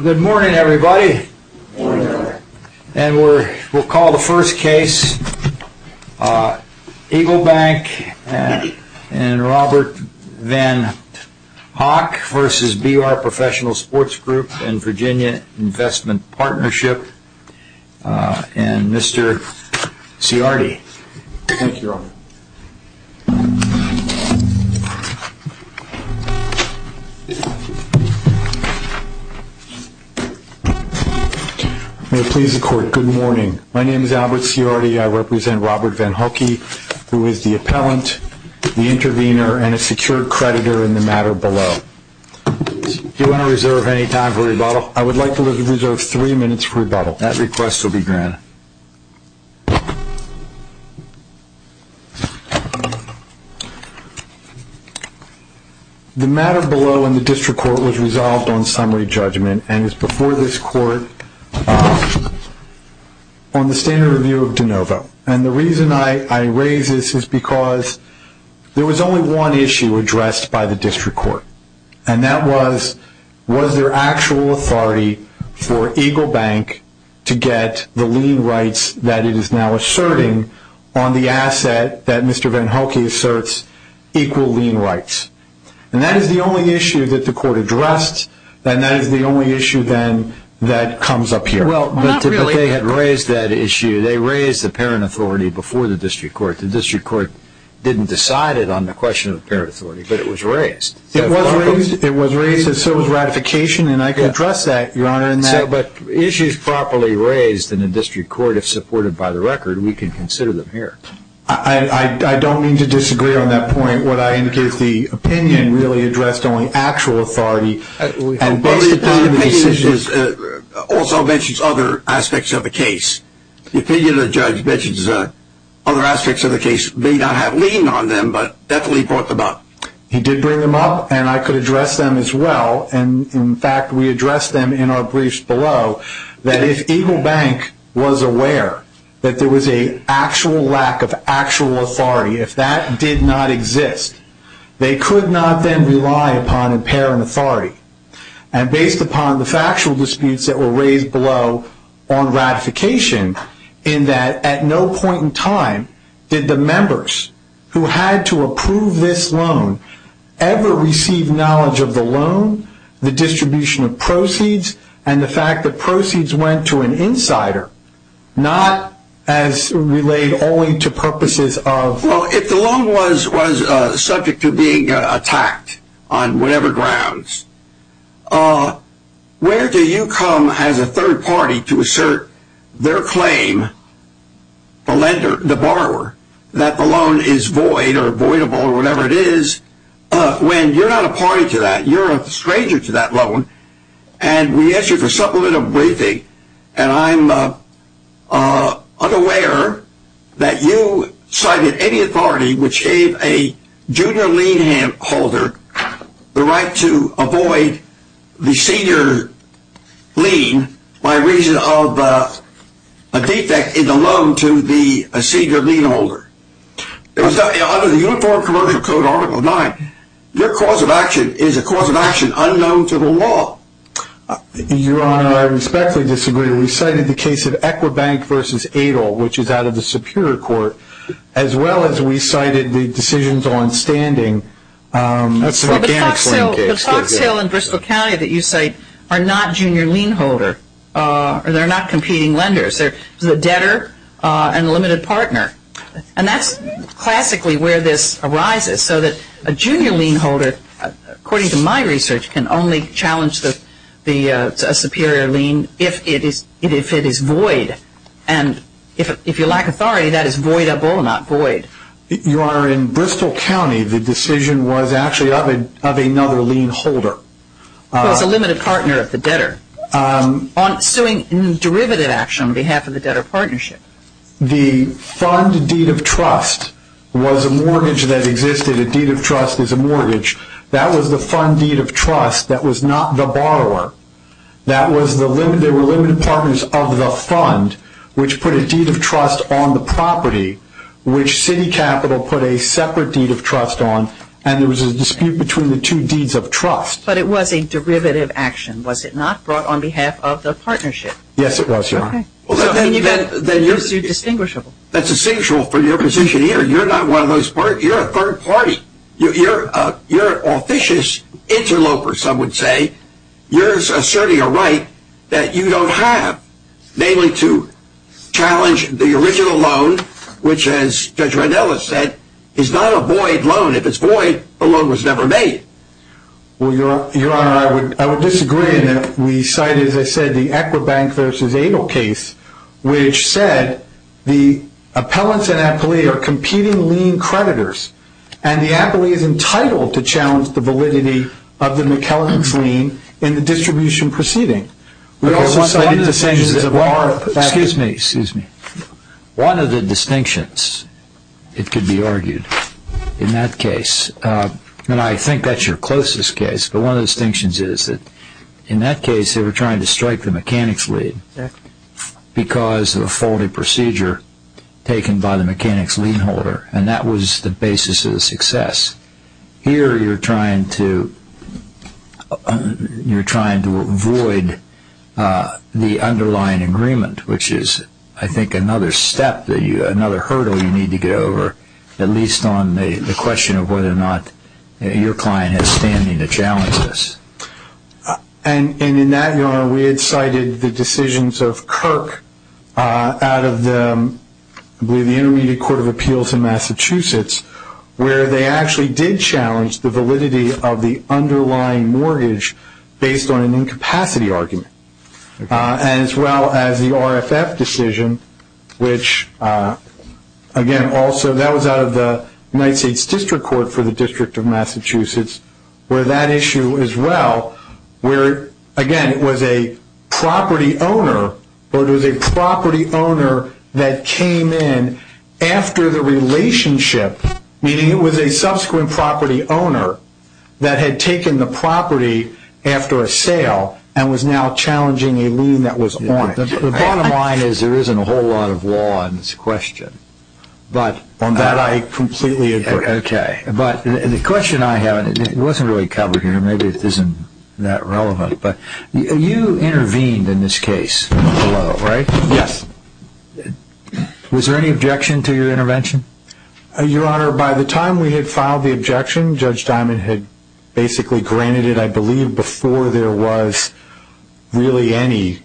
Good morning everybody, and we'll call the first case Eagle Bank and Robert Van Hock vs. BR Professional Sports Group and Virginia Investment Partnership and Mr. Ciardi Good morning. My name is Albert Ciardi. I represent Robert Van Hockey, who is the appellant, the intervener, and a secured creditor in the matter below. Do you want to reserve any time for rebuttal? I would like to reserve three minutes for rebuttal. That request will be granted. The matter below in the district court was resolved on summary judgment and is before this court on the standard review of DeNovo. The reason I raise this is because there was only one issue addressed by the district court, and that was, was there actual authority for Eagle Bank to get the lien rights that it is now asserting on the asset that Mr. Van Hockey asserts equal lien rights? And that is the only issue that the court addressed, and that is the only issue then that comes up here. Well, but they had raised that issue. They raised the parent authority before the district court. The district court didn't decide it on the question of parent authority, but it was raised. It was raised, and so was ratification, and I can address that, Your Honor. But issues properly raised in the district court, if supported by the record, we can consider them here. I don't mean to disagree on that point. What I indicate is the opinion really addressed only actual authority. But the opinion also mentions other aspects of the case. The opinion of the judge mentions other aspects of the case may not have lien on them, but definitely brought them up. He did bring them up, and I could address them as well. And, in fact, we addressed them in our briefs below, that if Eagle Bank was aware that there was an actual lack of actual authority, if that did not exist, they could not then rely upon a parent authority. And based upon the factual disputes that were raised below on ratification, in that at no point in time did the members who had to approve this loan ever receive knowledge of the loan, the distribution of proceeds, and the fact that proceeds went to an insider, not as relayed only to purposes of… Well, if the loan was subject to being attacked on whatever grounds, where do you come as a third party to assert their claim, the lender, the borrower, that the loan is void or voidable or whatever it is, when you're not a party to that, you're a stranger to that loan. And we asked you for supplement of briefing, and I'm unaware that you cited any authority which gave a junior lien holder the right to avoid the senior lien by reason of a defect in the loan to the senior lien holder. Under the Uniform Commercial Code Article 9, your cause of action is a cause of action unknown to the law. Your Honor, I respectfully disagree. We cited the case of Equibank v. Adol, which is out of the Superior Court, as well as we cited the decisions on standing… But the Fox Hill and Bristol County that you cite are not junior lien holders. They're not competing lenders. They're a debtor and a limited partner. And that's classically where this arises, so that a junior lien holder, according to my research, can only challenge a superior lien if it is void. And if you lack authority, that is voidable, not void. Your Honor, in Bristol County, the decision was actually of another lien holder. It was a limited partner of the debtor, suing in derivative action on behalf of the debtor partnership. The fund deed of trust was a mortgage that existed. A deed of trust is a mortgage. That was the fund deed of trust. That was not the borrower. There were limited partners of the fund, which put a deed of trust on the property, which City Capital put a separate deed of trust on, and there was a dispute between the two deeds of trust. But it was a derivative action, was it not, brought on behalf of the partnership? Yes, it was, Your Honor. Okay. That's distinguishable. That's essential for your position here. You're not one of those parties. You're a third party. You're an officious interloper, some would say. You're asserting a right that you don't have, namely to challenge the original loan, which, as Judge Randella said, is not a void loan. If it's void, the loan was never made. Well, Your Honor, I would disagree in that we cited, as I said, the Equibank v. Abel case, which said the appellants and appellee are competing lien creditors, and the appellee is entitled to challenge the validity of the McKellen's lien in the distribution proceeding. We also cited decisions of our... Excuse me, excuse me. One of the distinctions, it could be argued, in that case, and I think that's your closest case, but one of the distinctions is that in that case they were trying to strike the mechanic's lien because of a faulty procedure taken by the mechanic's lien holder, and that was the basis of the success. Here you're trying to avoid the underlying agreement, which is, I think, another hurdle you need to get over, at least on the question of whether or not your client has standing to challenge this. And in that, Your Honor, we had cited the decisions of Kirk out of, I believe, the Intermediate Court of Appeals in Massachusetts, where they actually did challenge the validity of the underlying mortgage based on an incapacity argument, as well as the RFF decision, which, again, also that was out of the United States District Court for the District of Massachusetts, where that issue as well, where, again, it was a property owner, or it was a property owner that came in after the relationship, meaning it was a subsequent property owner that had taken the property after a sale and was now challenging a lien that was on it. The bottom line is there isn't a whole lot of law in this question. On that I completely agree. Okay, but the question I have, and it wasn't really covered here, maybe it isn't that relevant, but you intervened in this case, right? Yes. Was there any objection to your intervention? Your Honor, by the time we had filed the objection, Judge Diamond had basically granted it, I believe, before there was really any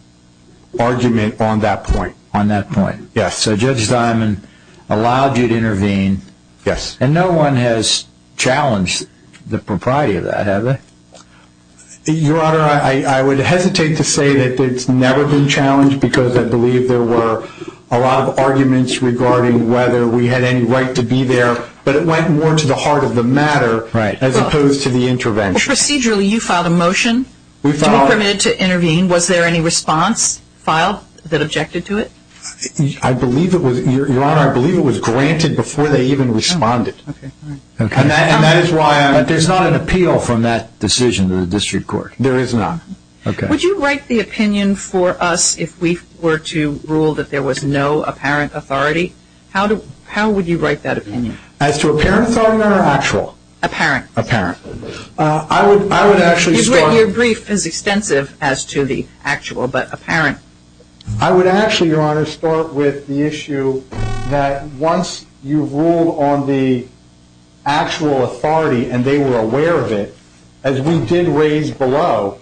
argument on that point. On that point. Yes. So Judge Diamond allowed you to intervene. Yes. And no one has challenged the propriety of that, have they? Your Honor, I would hesitate to say that it's never been challenged because I believe there were a lot of arguments regarding whether we had any right to be there, but it went more to the heart of the matter as opposed to the intervention. Procedurally, you filed a motion to be permitted to intervene. Was there any response filed that objected to it? Your Honor, I believe it was granted before they even responded. Okay. And that is why I'm – But there's not an appeal from that decision to the district court. There is not. Okay. Would you write the opinion for us if we were to rule that there was no apparent authority? How would you write that opinion? As to apparent authority or actual? Apparent. Apparent. I would actually start – Your brief is extensive as to the actual, but apparent. I would actually, Your Honor, start with the issue that once you've ruled on the actual authority and they were aware of it, as we did raise below,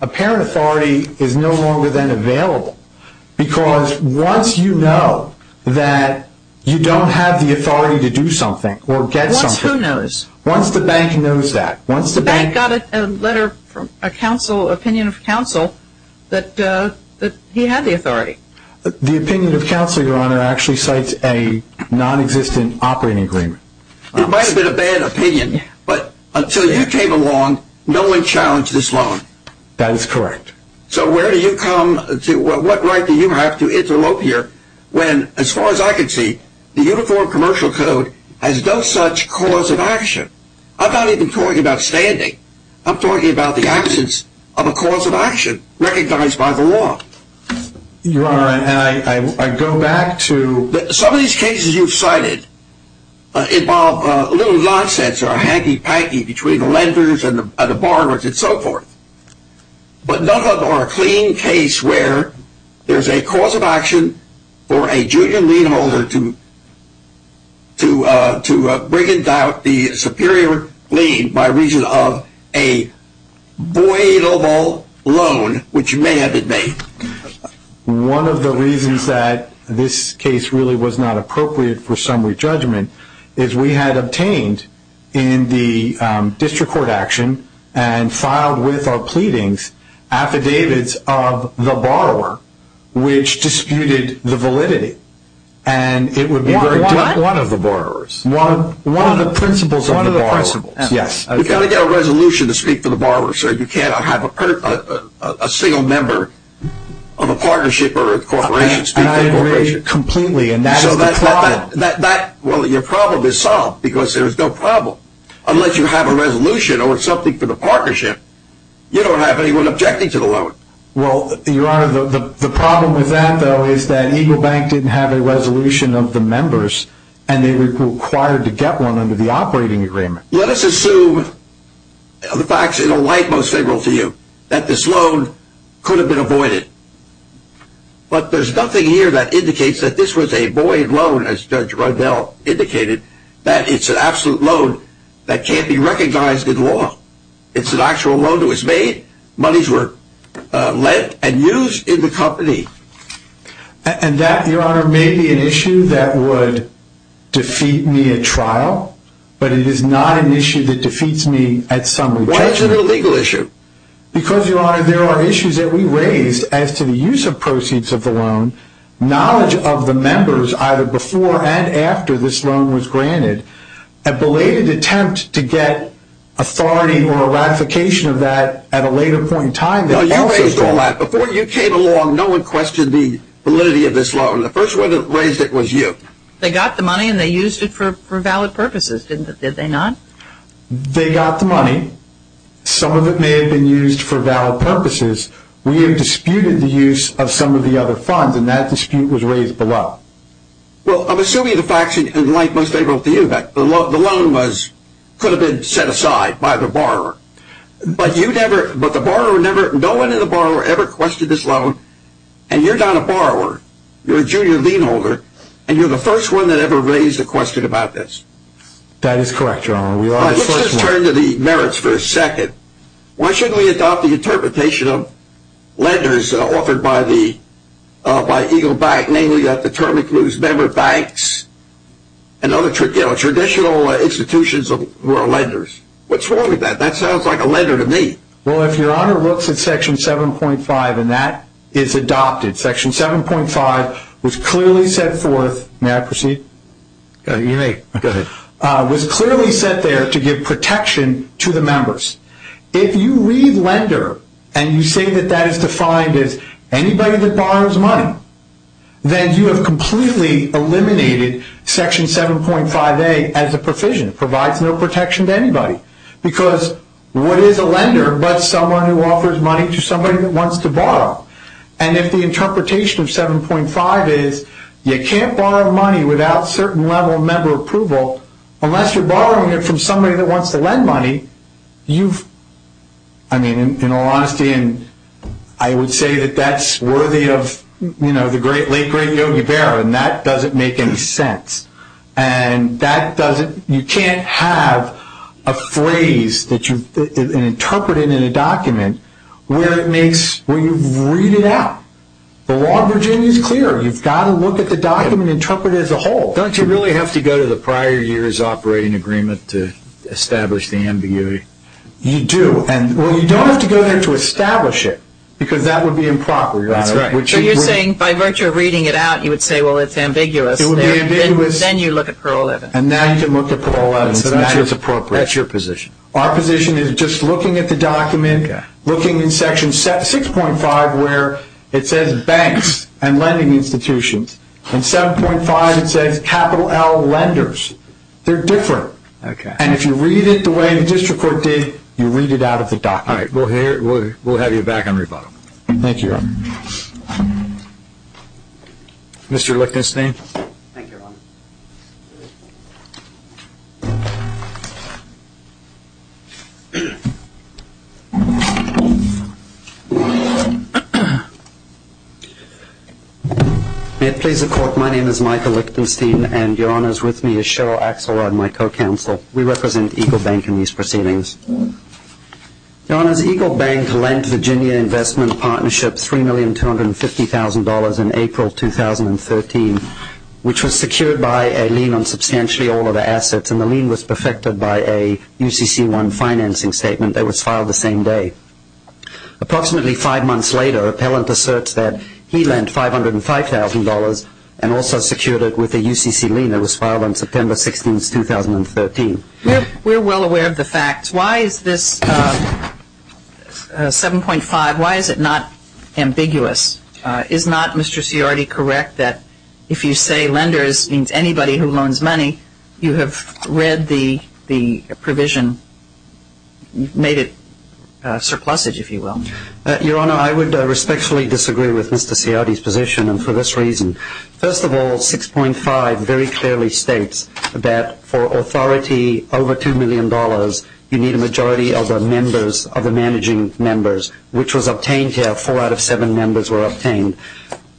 apparent authority is no longer then available. Because once you know that you don't have the authority to do something or get something – Once who knows? Once the bank knows that. Once the bank – The bank got a letter from a counsel, opinion of counsel, that he had the authority. The opinion of counsel, Your Honor, actually cites a nonexistent operating agreement. It might have been a bad opinion, but until you came along, no one challenged this loan. That is correct. So where do you come – what right do you have to interlope here when, as far as I can see, the Uniform Commercial Code has no such cause of action? I'm not even talking about standing. I'm talking about the absence of a cause of action recognized by the law. Your Honor, I go back to – Some of these cases you've cited involve a little nonsense or a hanky-panky between the lenders and the borrowers and so forth. But none of them are a clean case where there's a cause of action for a junior lien holder to bring about the superior lien by reason of a voidable loan, which may have been made. One of the reasons that this case really was not appropriate for summary judgment is we had obtained in the district court action and filed with our pleadings affidavits of the borrower, which disputed the validity. And it would be very difficult – One of the borrowers? One of the principals of the borrower. One of the principals, yes. You've got to get a resolution to speak for the borrower, sir. You cannot have a single member of a partnership or a corporation speak for a corporation. I agree completely, and that is the problem. Well, your problem is solved because there is no problem. Unless you have a resolution or something for the partnership, you don't have anyone objecting to the loan. Well, Your Honor, the problem with that, though, is that Eagle Bank didn't have a resolution of the members, and they were required to get one under the operating agreement. Let us assume the facts in a light most favorable to you, that this loan could have been avoided. But there's nothing here that indicates that this was a void loan, as Judge Rundell indicated, that it's an absolute loan that can't be recognized in law. It's an actual loan that was made. Monies were lent and used in the company. And that, Your Honor, may be an issue that would defeat me at trial, but it is not an issue that defeats me at summary trial. Why is it a legal issue? Because, Your Honor, there are issues that we raised as to the use of proceeds of the loan, knowledge of the members, either before and after this loan was granted, a belated attempt to get authority or a ratification of that at a later point in time. Now, you raised all that. Before you came along, no one questioned the validity of this loan. The first one that raised it was you. They got the money, and they used it for valid purposes, didn't they? Did they not? They got the money. Some of it may have been used for valid purposes. We have disputed the use of some of the other funds, and that dispute was raised below. Well, I'm assuming the facts in a light most favorable to you, that the loan could have been set aside by the borrower. But no one in the borrower ever questioned this loan, and you're not a borrower. You're a junior lien holder, and you're the first one that ever raised a question about this. That is correct, Your Honor. Let's just turn to the merits for a second. Why shouldn't we adopt the interpretation of lenders offered by Eagle Bank, namely that the term includes member banks and other traditional institutions who are lenders? What's wrong with that? That sounds like a lender to me. Well, if Your Honor looks at Section 7.5, and that is adopted. Section 7.5 was clearly set forth. May I proceed? You may. Go ahead. It was clearly set there to give protection to the members. If you read lender and you say that that is defined as anybody that borrows money, then you have completely eliminated Section 7.5a as a provision. It provides no protection to anybody. Because what is a lender but someone who offers money to somebody that wants to borrow? And if the interpretation of 7.5 is you can't borrow money without certain level of member approval, unless you're borrowing it from somebody that wants to lend money, you've, I mean, in all honesty, I would say that that's worthy of the late, great Yogi Berra, and that doesn't make any sense. And that doesn't, you can't have a phrase that you've interpreted in a document where it makes, where you read it out. The law of Virginia is clear. You've got to look at the document and interpret it as a whole. Don't you really have to go to the prior year's operating agreement to establish the ambiguity? You do. And, well, you don't have to go there to establish it, because that would be improper, Your Honor. That's right. So you're saying by virtue of reading it out, you would say, well, it's ambiguous. It would be ambiguous. Then you look at Parole 11. And now you can look at Parole 11. So that's what's appropriate. That's your position. Our position is just looking at the document, looking in Section 6.5 where it says banks and lending institutions. In 7.5 it says capital L lenders. They're different. Okay. And if you read it the way the district court did, you read it out of the document. All right. We'll have you back on rebuttal. Thank you, Your Honor. Mr. Lichtenstein. Thank you, Your Honor. May it please the Court, my name is Michael Lichtenstein, and Your Honor, with me is Cheryl Axelrod, my co-counsel. We represent Eagle Bank in these proceedings. Your Honor, Eagle Bank lent Virginia Investment Partnership $3,250,000 in April 2013, which was secured by a lien on substantially all of the assets. And the lien was perfected by a UCC-1 financing statement that was filed the same day. Approximately five months later, an appellant asserts that he lent $505,000 and also secured it with a UCC lien that was filed on September 16, 2013. We're well aware of the facts. Why is this 7.5, why is it not ambiguous? Is not Mr. Ciardi correct that if you say lenders means anybody who loans money, you have read the provision, made it surplusage, if you will? Your Honor, I would respectfully disagree with Mr. Ciardi's position, and for this reason. First of all, 6.5 very clearly states that for authority over $2 million, you need a majority of the members, of the managing members, which was obtained here. Four out of seven members were obtained.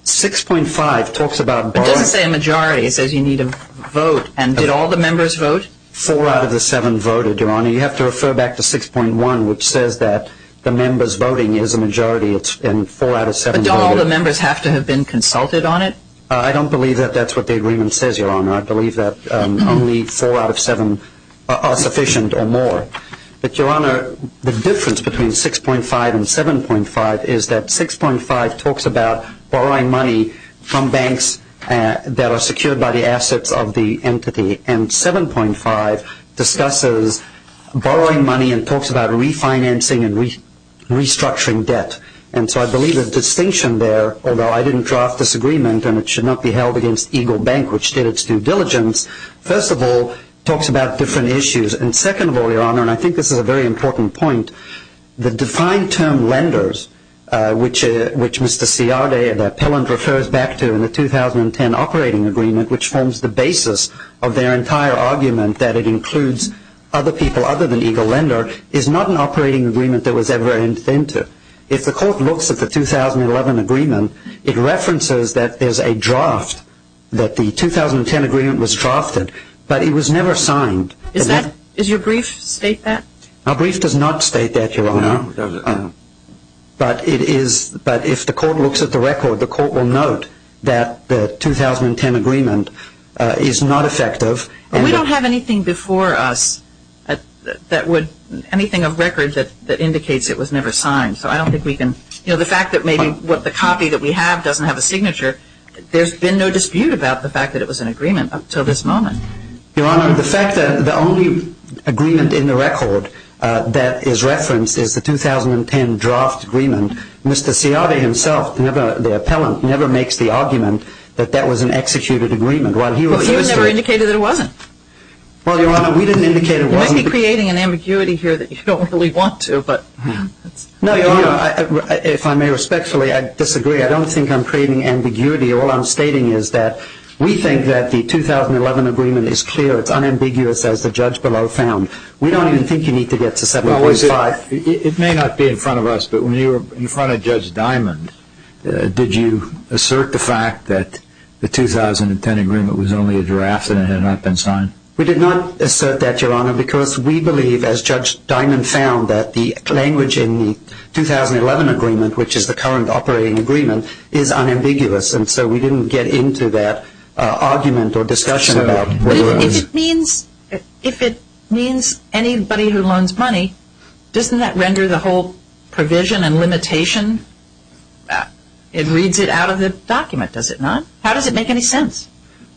6.5 talks about borrowers. It doesn't say a majority. It says you need a vote. And did all the members vote? Four out of the seven voted, Your Honor. You have to refer back to 6.1, which says that the members voting is a majority, and four out of seven voted. Don't all the members have to have been consulted on it? I don't believe that that's what the agreement says, Your Honor. I believe that only four out of seven are sufficient or more. But, Your Honor, the difference between 6.5 and 7.5 is that 6.5 talks about borrowing money from banks that are secured by the assets of the entity, and 7.5 discusses borrowing money and talks about refinancing and restructuring debt. And so I believe the distinction there, although I didn't draft this agreement and it should not be held against Eagle Bank, which did its due diligence. First of all, it talks about different issues. And second of all, Your Honor, and I think this is a very important point, the defined term lenders, which Mr. Ciardi and Appellant refers back to in the 2010 operating agreement, which forms the basis of their entire argument that it includes other people other than Eagle Lender, is not an operating agreement that was ever entered into. If the court looks at the 2011 agreement, it references that there's a draft, that the 2010 agreement was drafted, but it was never signed. Does your brief state that? Our brief does not state that, Your Honor. But if the court looks at the record, the court will note that the 2010 agreement is not effective. We don't have anything before us that would, anything of record that indicates it was never signed. So I don't think we can, you know, the fact that maybe what the copy that we have doesn't have a signature, there's been no dispute about the fact that it was an agreement up until this moment. Your Honor, the fact that the only agreement in the record that is referenced is the 2010 draft agreement, Mr. Ciardi himself, the Appellant, never makes the argument that that was an executed agreement. Well, you never indicated that it wasn't. Well, Your Honor, we didn't indicate it wasn't. You might be creating an ambiguity here that you don't really want to, but... No, Your Honor, if I may respectfully, I disagree. I don't think I'm creating ambiguity. All I'm stating is that we think that the 2011 agreement is clear. It's unambiguous, as the judge below found. We don't even think you need to get to 7.5. It may not be in front of us, but when you were in front of Judge Diamond, did you assert the fact that the 2010 agreement was only a draft and it had not been signed? We did not assert that, Your Honor, because we believe, as Judge Diamond found, that the language in the 2011 agreement, which is the current operating agreement, is unambiguous, and so we didn't get into that argument or discussion about whether it was... It reads it out of the document, does it not? How does it make any sense?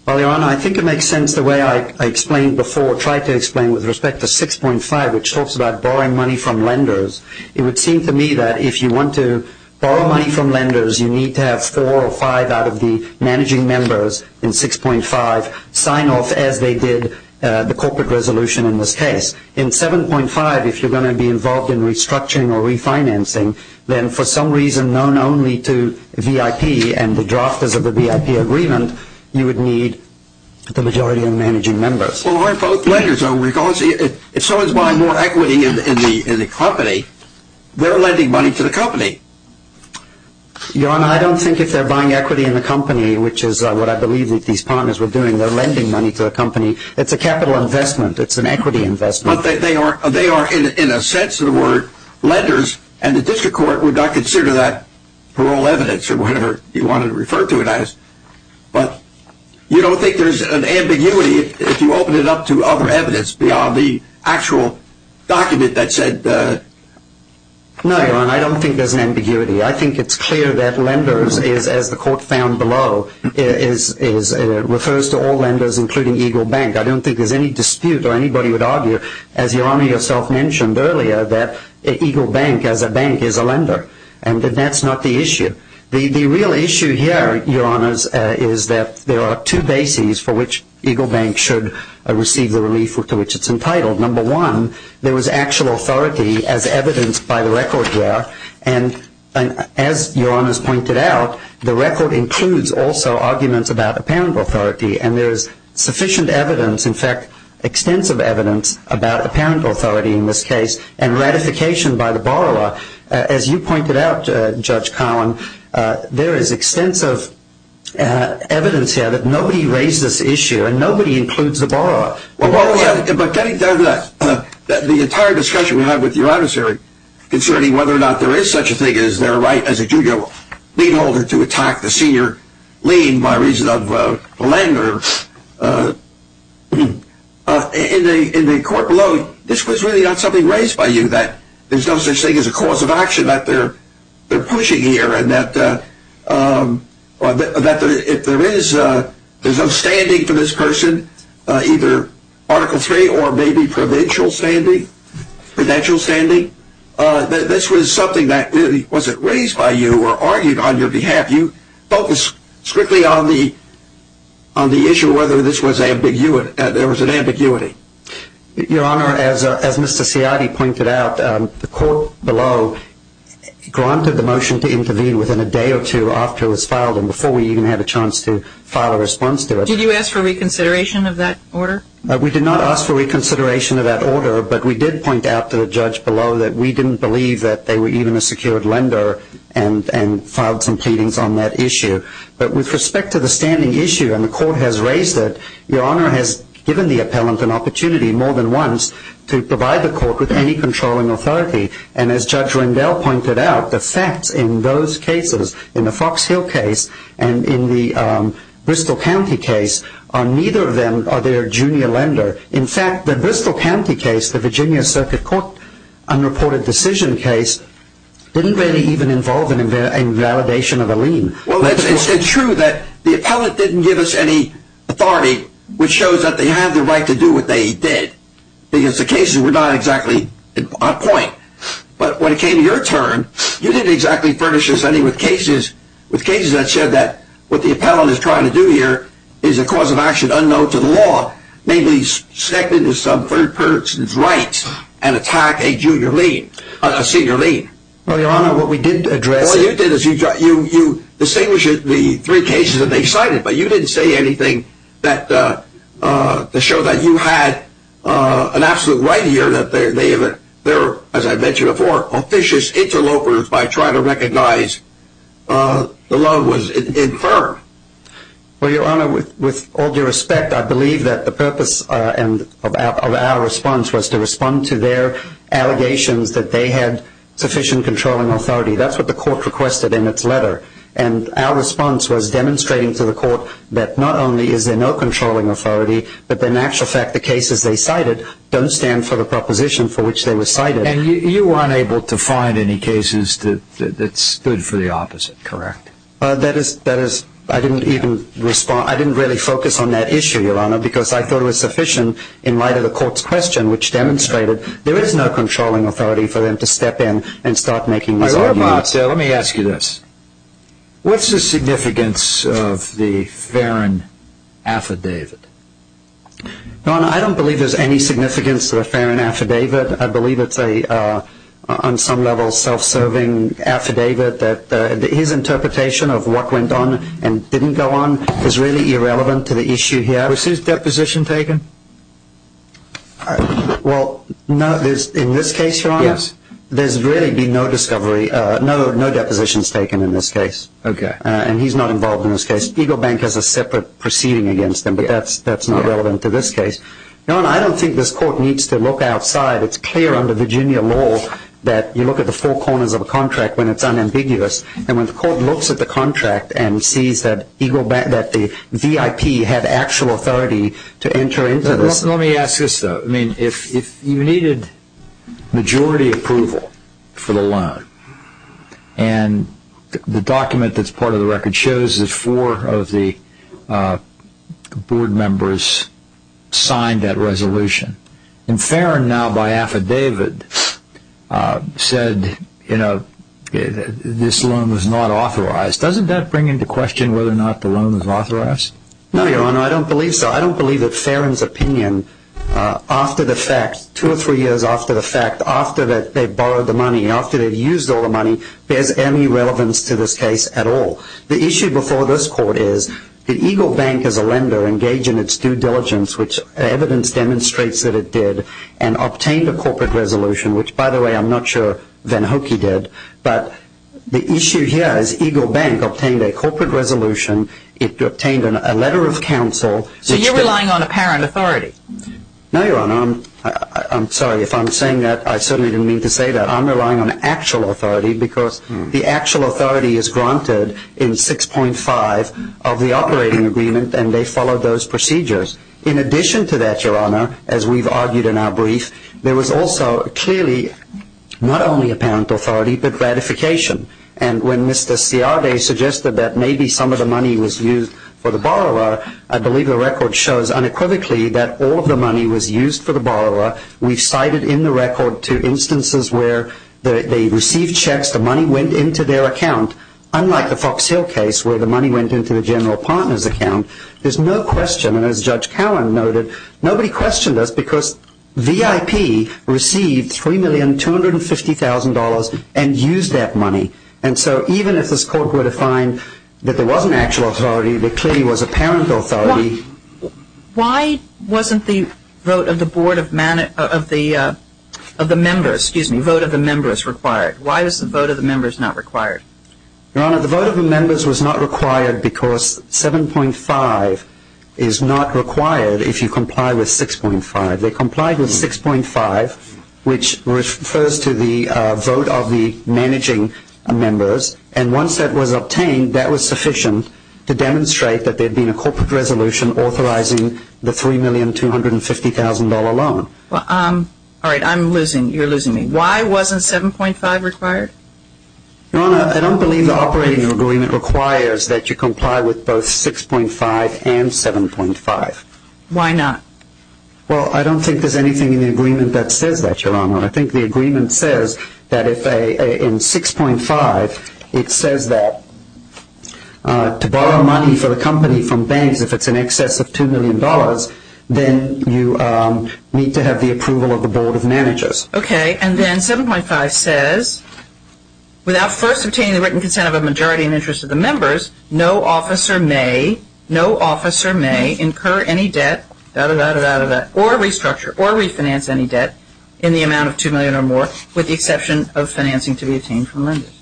Well, Your Honor, I think it makes sense the way I explained before, tried to explain with respect to 6.5, which talks about borrowing money from lenders. It would seem to me that if you want to borrow money from lenders, you need to have four or five out of the managing members in 6.5 sign off as they did the corporate resolution in this case. In 7.5, if you're going to be involved in restructuring or refinancing, then for some reason known only to VIP and the drafters of the VIP agreement, you would need the majority of the managing members. Well, aren't both lenders? If someone's buying more equity in the company, they're lending money to the company. Your Honor, I don't think if they're buying equity in the company, which is what I believe these partners were doing, they're lending money to the company. It's a capital investment. It's an equity investment. But they are, in a sense of the word, lenders, and the district court would not consider that parole evidence or whatever you want to refer to it as. But you don't think there's an ambiguity if you open it up to other evidence beyond the actual document that said the… No, Your Honor, I don't think there's an ambiguity. I think it's clear that lenders, as the court found below, refers to all lenders, including Eagle Bank. I don't think there's any dispute or anybody would argue, as Your Honor yourself mentioned earlier, that Eagle Bank, as a bank, is a lender, and that that's not the issue. The real issue here, Your Honors, is that there are two bases for which Eagle Bank should receive the relief to which it's entitled. Number one, there was actual authority as evidenced by the record here, and as Your Honors pointed out, the record includes also arguments about apparent authority, and there is sufficient evidence, in fact, extensive evidence, about apparent authority in this case and ratification by the borrower. As you pointed out, Judge Collin, there is extensive evidence here that nobody raised this issue, and nobody includes the borrower. But getting down to that, the entire discussion we have with Your Honors here concerning whether or not there is such a thing as their right as a junior lien holder to attack the senior lien by reason of a lender, in the court below, this was really not something raised by you, that there's no such thing as a cause of action, that they're pushing here, and that if there is some standing for this person, either Article III or maybe provincial standing, this was something that wasn't raised by you or argued on your behalf. You focused strictly on the issue whether there was an ambiguity. Your Honor, as Mr. Ciotti pointed out, the court below granted the motion to intervene within a day or two after it was filed and before we even had a chance to file a response to it. Did you ask for reconsideration of that order? We did not ask for reconsideration of that order, but we did point out to the judge below that we didn't believe that they were even a secured lender and filed some pleadings on that issue. But with respect to the standing issue, and the court has raised it, Your Honor has given the appellant an opportunity more than once to provide the court with any controlling authority. And as Judge Rendell pointed out, the facts in those cases, in the Fox Hill case and in the Bristol County case, neither of them are their junior lender. In fact, the Bristol County case, the Virginia Circuit Court unreported decision case, didn't really even involve an invalidation of a lien. It's true that the appellant didn't give us any authority, which shows that they have the right to do what they did, because the cases were not exactly on point. But when it came to your turn, you didn't exactly furnish us any with cases that said that what the appellant is trying to do here is a cause of action unknown to the law, namely second to some third person's rights and attack a senior lien. Well, Your Honor, what we did address... What you did is you distinguished the three cases that they cited, but you didn't say anything to show that you had an absolute right here, and that they're, as I mentioned before, officious interlopers by trying to recognize the law was infirm. Well, Your Honor, with all due respect, I believe that the purpose of our response was to respond to their allegations that they had sufficient controlling authority. That's what the court requested in its letter. And our response was demonstrating to the court that not only is there no controlling authority, but that in actual fact the cases they cited don't stand for the proposition for which they were cited. And you were unable to find any cases that stood for the opposite, correct? That is, I didn't even respond. I didn't really focus on that issue, Your Honor, because I thought it was sufficient in light of the court's question, which demonstrated there is no controlling authority for them to step in and start making this argument. Let me ask you this. What's the significance of the Farron affidavit? Your Honor, I don't believe there's any significance to the Farron affidavit. I believe it's on some level a self-serving affidavit. His interpretation of what went on and didn't go on is really irrelevant to the issue here. Was his deposition taken? Well, no. In this case, Your Honor, there's really been no depositions taken in this case. Okay. And he's not involved in this case. Eagle Bank has a separate proceeding against them, but that's not relevant to this case. Your Honor, I don't think this court needs to look outside. It's clear under Virginia law that you look at the four corners of a contract when it's unambiguous. And when the court looks at the contract and sees that the VIP had actual authority to enter into this. Let me ask this, though. If you needed majority approval for the loan, and the document that's part of the record shows that four of the board members signed that resolution, and Farron, now by affidavit, said this loan was not authorized, doesn't that bring into question whether or not the loan was authorized? No, Your Honor. I don't believe so. I don't believe that Farron's opinion, after the fact, two or three years after the fact, after they borrowed the money, after they've used all the money, bears any relevance to this case at all. The issue before this court is that Eagle Bank, as a lender, engaged in its due diligence, which evidence demonstrates that it did, and obtained a corporate resolution, which, by the way, I'm not sure Van Hokey did. But the issue here is Eagle Bank obtained a corporate resolution. It obtained a letter of counsel. So you're relying on apparent authority? No, Your Honor. I'm sorry. If I'm saying that, I certainly didn't mean to say that. I'm relying on actual authority because the actual authority is granted in 6.5 of the operating agreement, and they followed those procedures. In addition to that, Your Honor, as we've argued in our brief, there was also clearly not only apparent authority but ratification. And when Mr. Ciardi suggested that maybe some of the money was used for the borrower, I believe the record shows unequivocally that all of the money was used for the borrower. We've cited in the record two instances where they received checks, the money went into their account. Unlike the Fox Hill case where the money went into the general partner's account, there's no question, and as Judge Cowan noted, nobody questioned us because VIP received $3,250,000 and used that money. And so even if this court were to find that there was an actual authority, there clearly was apparent authority. Why wasn't the vote of the members required? Why was the vote of the members not required? Your Honor, the vote of the members was not required because 7.5 is not required if you comply with 6.5. They complied with 6.5, which refers to the vote of the managing members, and once that was obtained, that was sufficient to demonstrate that there had been a corporate resolution authorizing the $3,250,000 loan. All right, I'm losing, you're losing me. Why wasn't 7.5 required? Your Honor, I don't believe the operating agreement requires that you comply with both 6.5 and 7.5. Why not? Well, I don't think there's anything in the agreement that says that, Your Honor. I think the agreement says that in 6.5, it says that to borrow money for the company from banks, if it's in excess of $2 million, then you need to have the approval of the Board of Managers. Okay, and then 7.5 says, without first obtaining the written consent of a majority in interest of the members, no officer may incur any debt or restructure or refinance any debt in the amount of $2 million or more, with the exception of financing to be obtained from lenders.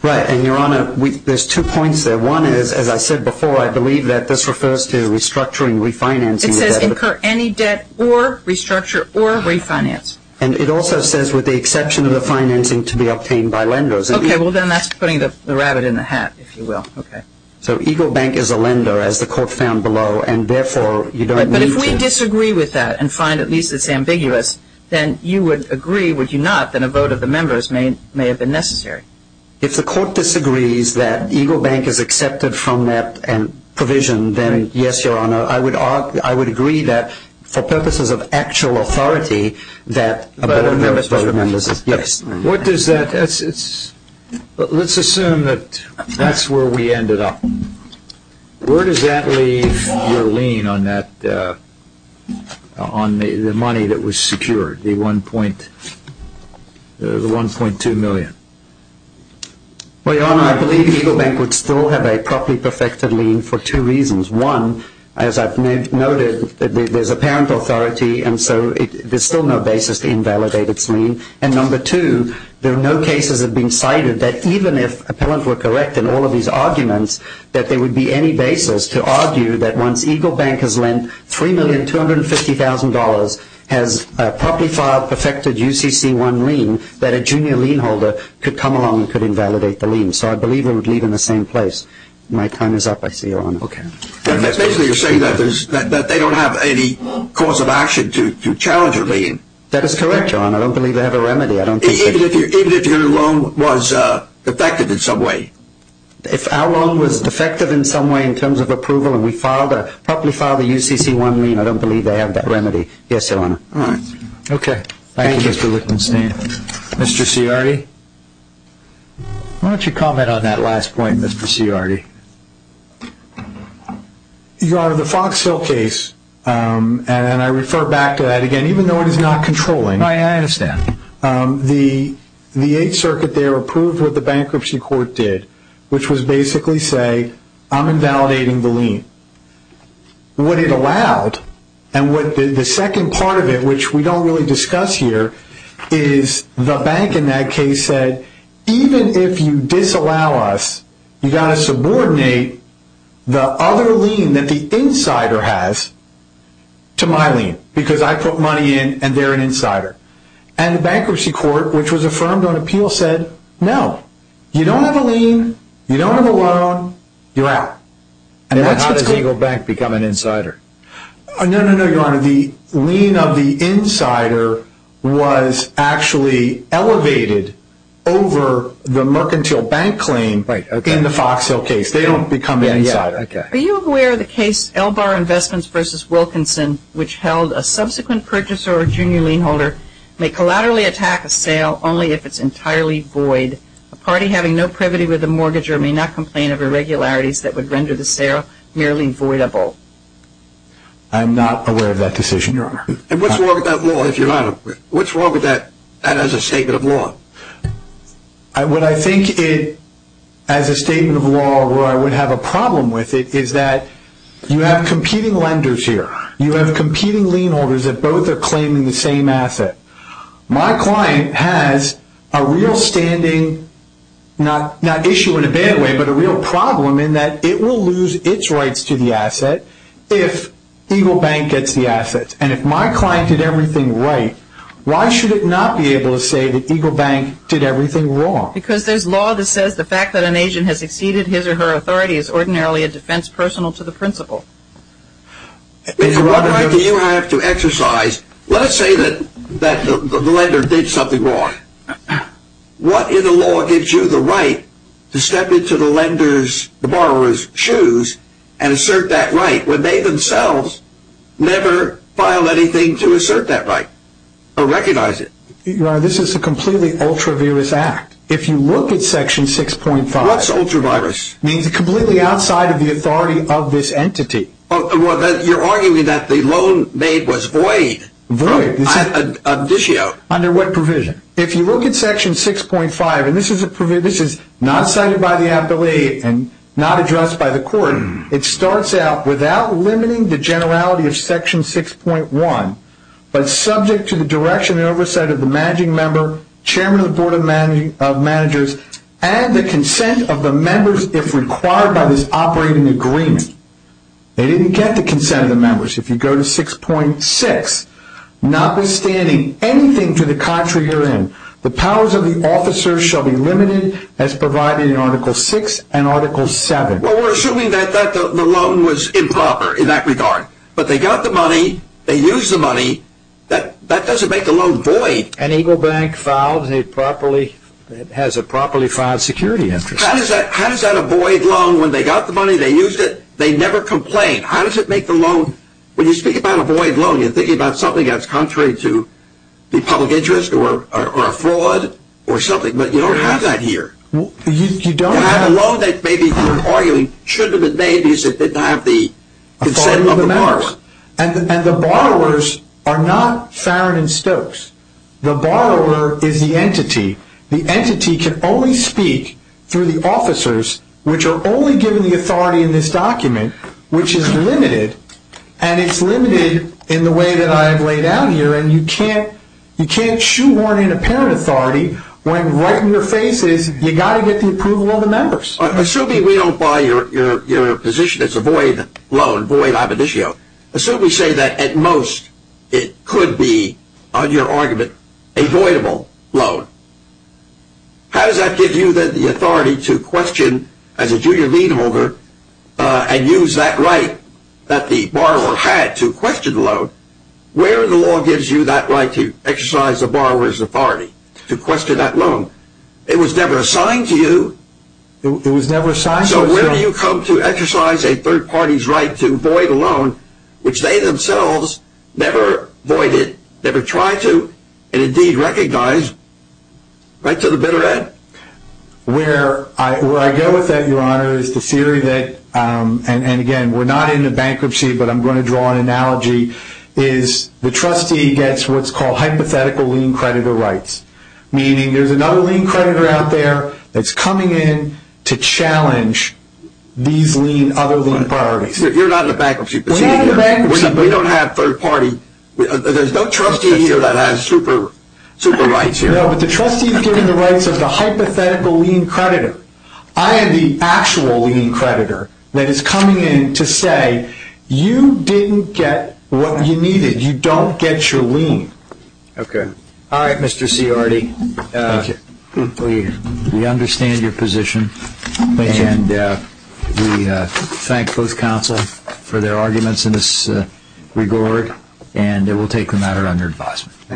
Right, and Your Honor, there's two points there. One is, as I said before, I believe that this refers to restructuring, refinancing. It says incur any debt or restructure or refinance. And it also says, with the exception of the financing to be obtained by lenders. Okay, well, then that's putting the rabbit in the hat, if you will. So Eagle Bank is a lender, as the Court found below, and therefore you don't need to... But if we disagree with that and find at least it's ambiguous, then you would agree, would you not, that a vote of the members may have been necessary? If the Court disagrees that Eagle Bank is accepted from that provision, then yes, Your Honor. I would agree that, for purposes of actual authority, that a vote of the members is necessary. Let's assume that that's where we ended up. Where does that leave your lien on the money that was secured, the $1.2 million? Well, Your Honor, I believe Eagle Bank would still have a properly perfected lien for two reasons. One, as I've noted, there's apparent authority, and so there's still no basis to invalidate its lien. And number two, there are no cases that have been cited that even if appellant were correct in all of these arguments, that there would be any basis to argue that once Eagle Bank has lent $3,250,000, has a properly filed, perfected UCC1 lien, that a junior lien holder could come along and could invalidate the lien. So I believe it would leave in the same place. My time is up, I see, Your Honor. Okay. Basically, you're saying that they don't have any cause of action to challenge your lien. That is correct, Your Honor. I don't believe they have a remedy. Even if your loan was defective in some way? If our loan was defective in some way in terms of approval and we filed a properly filed UCC1 lien, I don't believe they have that remedy. Yes, Your Honor. All right. Okay. Thank you, Mr. Lichtenstein. Mr. Ciardi? Why don't you comment on that last point, Mr. Ciardi? Your Honor, the Fox Hill case, and I refer back to that again, even though it is not controlling. I understand. The Eighth Circuit there approved what the Bankruptcy Court did, which was basically say, I'm invalidating the lien. What it allowed, and the second part of it, which we don't really discuss here, is the bank in that case said, even if you disallow us, you've got to subordinate the other lien that the insider has to my lien, because I put money in and they're an insider. And the Bankruptcy Court, which was affirmed on appeal, said, no. You don't have a lien, you don't have a loan, you're out. And how does Eagle Bank become an insider? No, no, no, Your Honor. The lien of the insider was actually elevated over the mercantile bank claim in the Fox Hill case. They don't become an insider. Are you aware of the case, Elbar Investments v. Wilkinson, which held a subsequent purchaser or junior lien holder may collaterally attack a sale only if it's entirely void. A party having no privity with a mortgager may not complain of irregularities that would render the sale merely voidable. I'm not aware of that decision, Your Honor. And what's wrong with that law, if you're not aware? What's wrong with that as a statement of law? What I think it, as a statement of law, where I would have a problem with it, is that you have competing lenders here. You have competing lien holders that both are claiming the same asset. My client has a real standing, not issue in a bad way, but a real problem in that it will lose its rights to the asset if Eagle Bank gets the asset. And if my client did everything right, why should it not be able to say that Eagle Bank did everything wrong? Because there's law that says the fact that an agent has exceeded his or her authority is ordinarily a defense personal to the principal. What right do you have to exercise? Let's say that the lender did something wrong. What in the law gives you the right to step into the lender's, the borrower's, shoes and assert that right, when they themselves never filed anything to assert that right or recognize it? Your Honor, this is a completely ultra-virous act. If you look at Section 6.5... What's ultra-virus? It means it's completely outside of the authority of this entity. You're arguing that the loan made was void. Void. Under what provision? If you look at Section 6.5, and this is not cited by the appellate and not addressed by the court, it starts out, without limiting the generality of Section 6.1, but subject to the direction and oversight of the managing member, chairman of the board of managers, and the consent of the members if required by this operating agreement. They didn't get the consent of the members. If you go to Section 6.6, notwithstanding anything to the contrary you're in, the powers of the officer shall be limited as provided in Article 6 and Article 7. Well, we're assuming that the loan was improper in that regard. But they got the money, they used the money, that doesn't make the loan void. An Eagle Bank has a properly filed security interest. How does that avoid loan when they got the money, they used it, they never complained? How does it make the loan... When you speak about avoid loan, you're thinking about something that's contrary to the public interest or a fraud or something, but you don't have that here. You don't have... You have a loan that maybe, you're arguing, shouldn't have been made because it didn't have the consent of the members. And the borrowers are not Farron and Stokes. The borrower is the entity. The entity can only speak through the officers, which are only given the authority in this document, which is limited. And it's limited in the way that I have laid out here. And you can't shoehorn in a parent authority when right in your face is, you got to get the approval of the members. Assuming we don't buy your position, it's a void loan, void ambitio. Assume we say that at most it could be, on your argument, a voidable loan. How does that give you the authority to question as a junior lead holder and use that right that the borrower had to question the loan? Where in the law gives you that right to exercise the borrower's authority to question that loan? It was never assigned to you. It was never assigned to us. So where do you come to exercise a third party's right to void a loan, which they themselves never voided, never tried to, and indeed recognized? Right to the bitter end. Where I go with that, Your Honor, is the theory that, and again, we're not into bankruptcy, but I'm going to draw an analogy, is the trustee gets what's called hypothetical lien creditor rights. Meaning there's another lien creditor out there that's coming in to challenge these other lien priorities. You're not in a bankruptcy procedure. We're not in a bankruptcy. We don't have third party. There's no trustee here that has super rights here. No, but the trustee is given the rights of the hypothetical lien creditor. I am the actual lien creditor that is coming in to say, you didn't get what you needed. You don't get your lien. Okay. All right, Mr. Ciardi. Thank you. We understand your position. Thank you. And we thank both counsel for their arguments in this regard. And we'll take the matter under advisement. Thank you.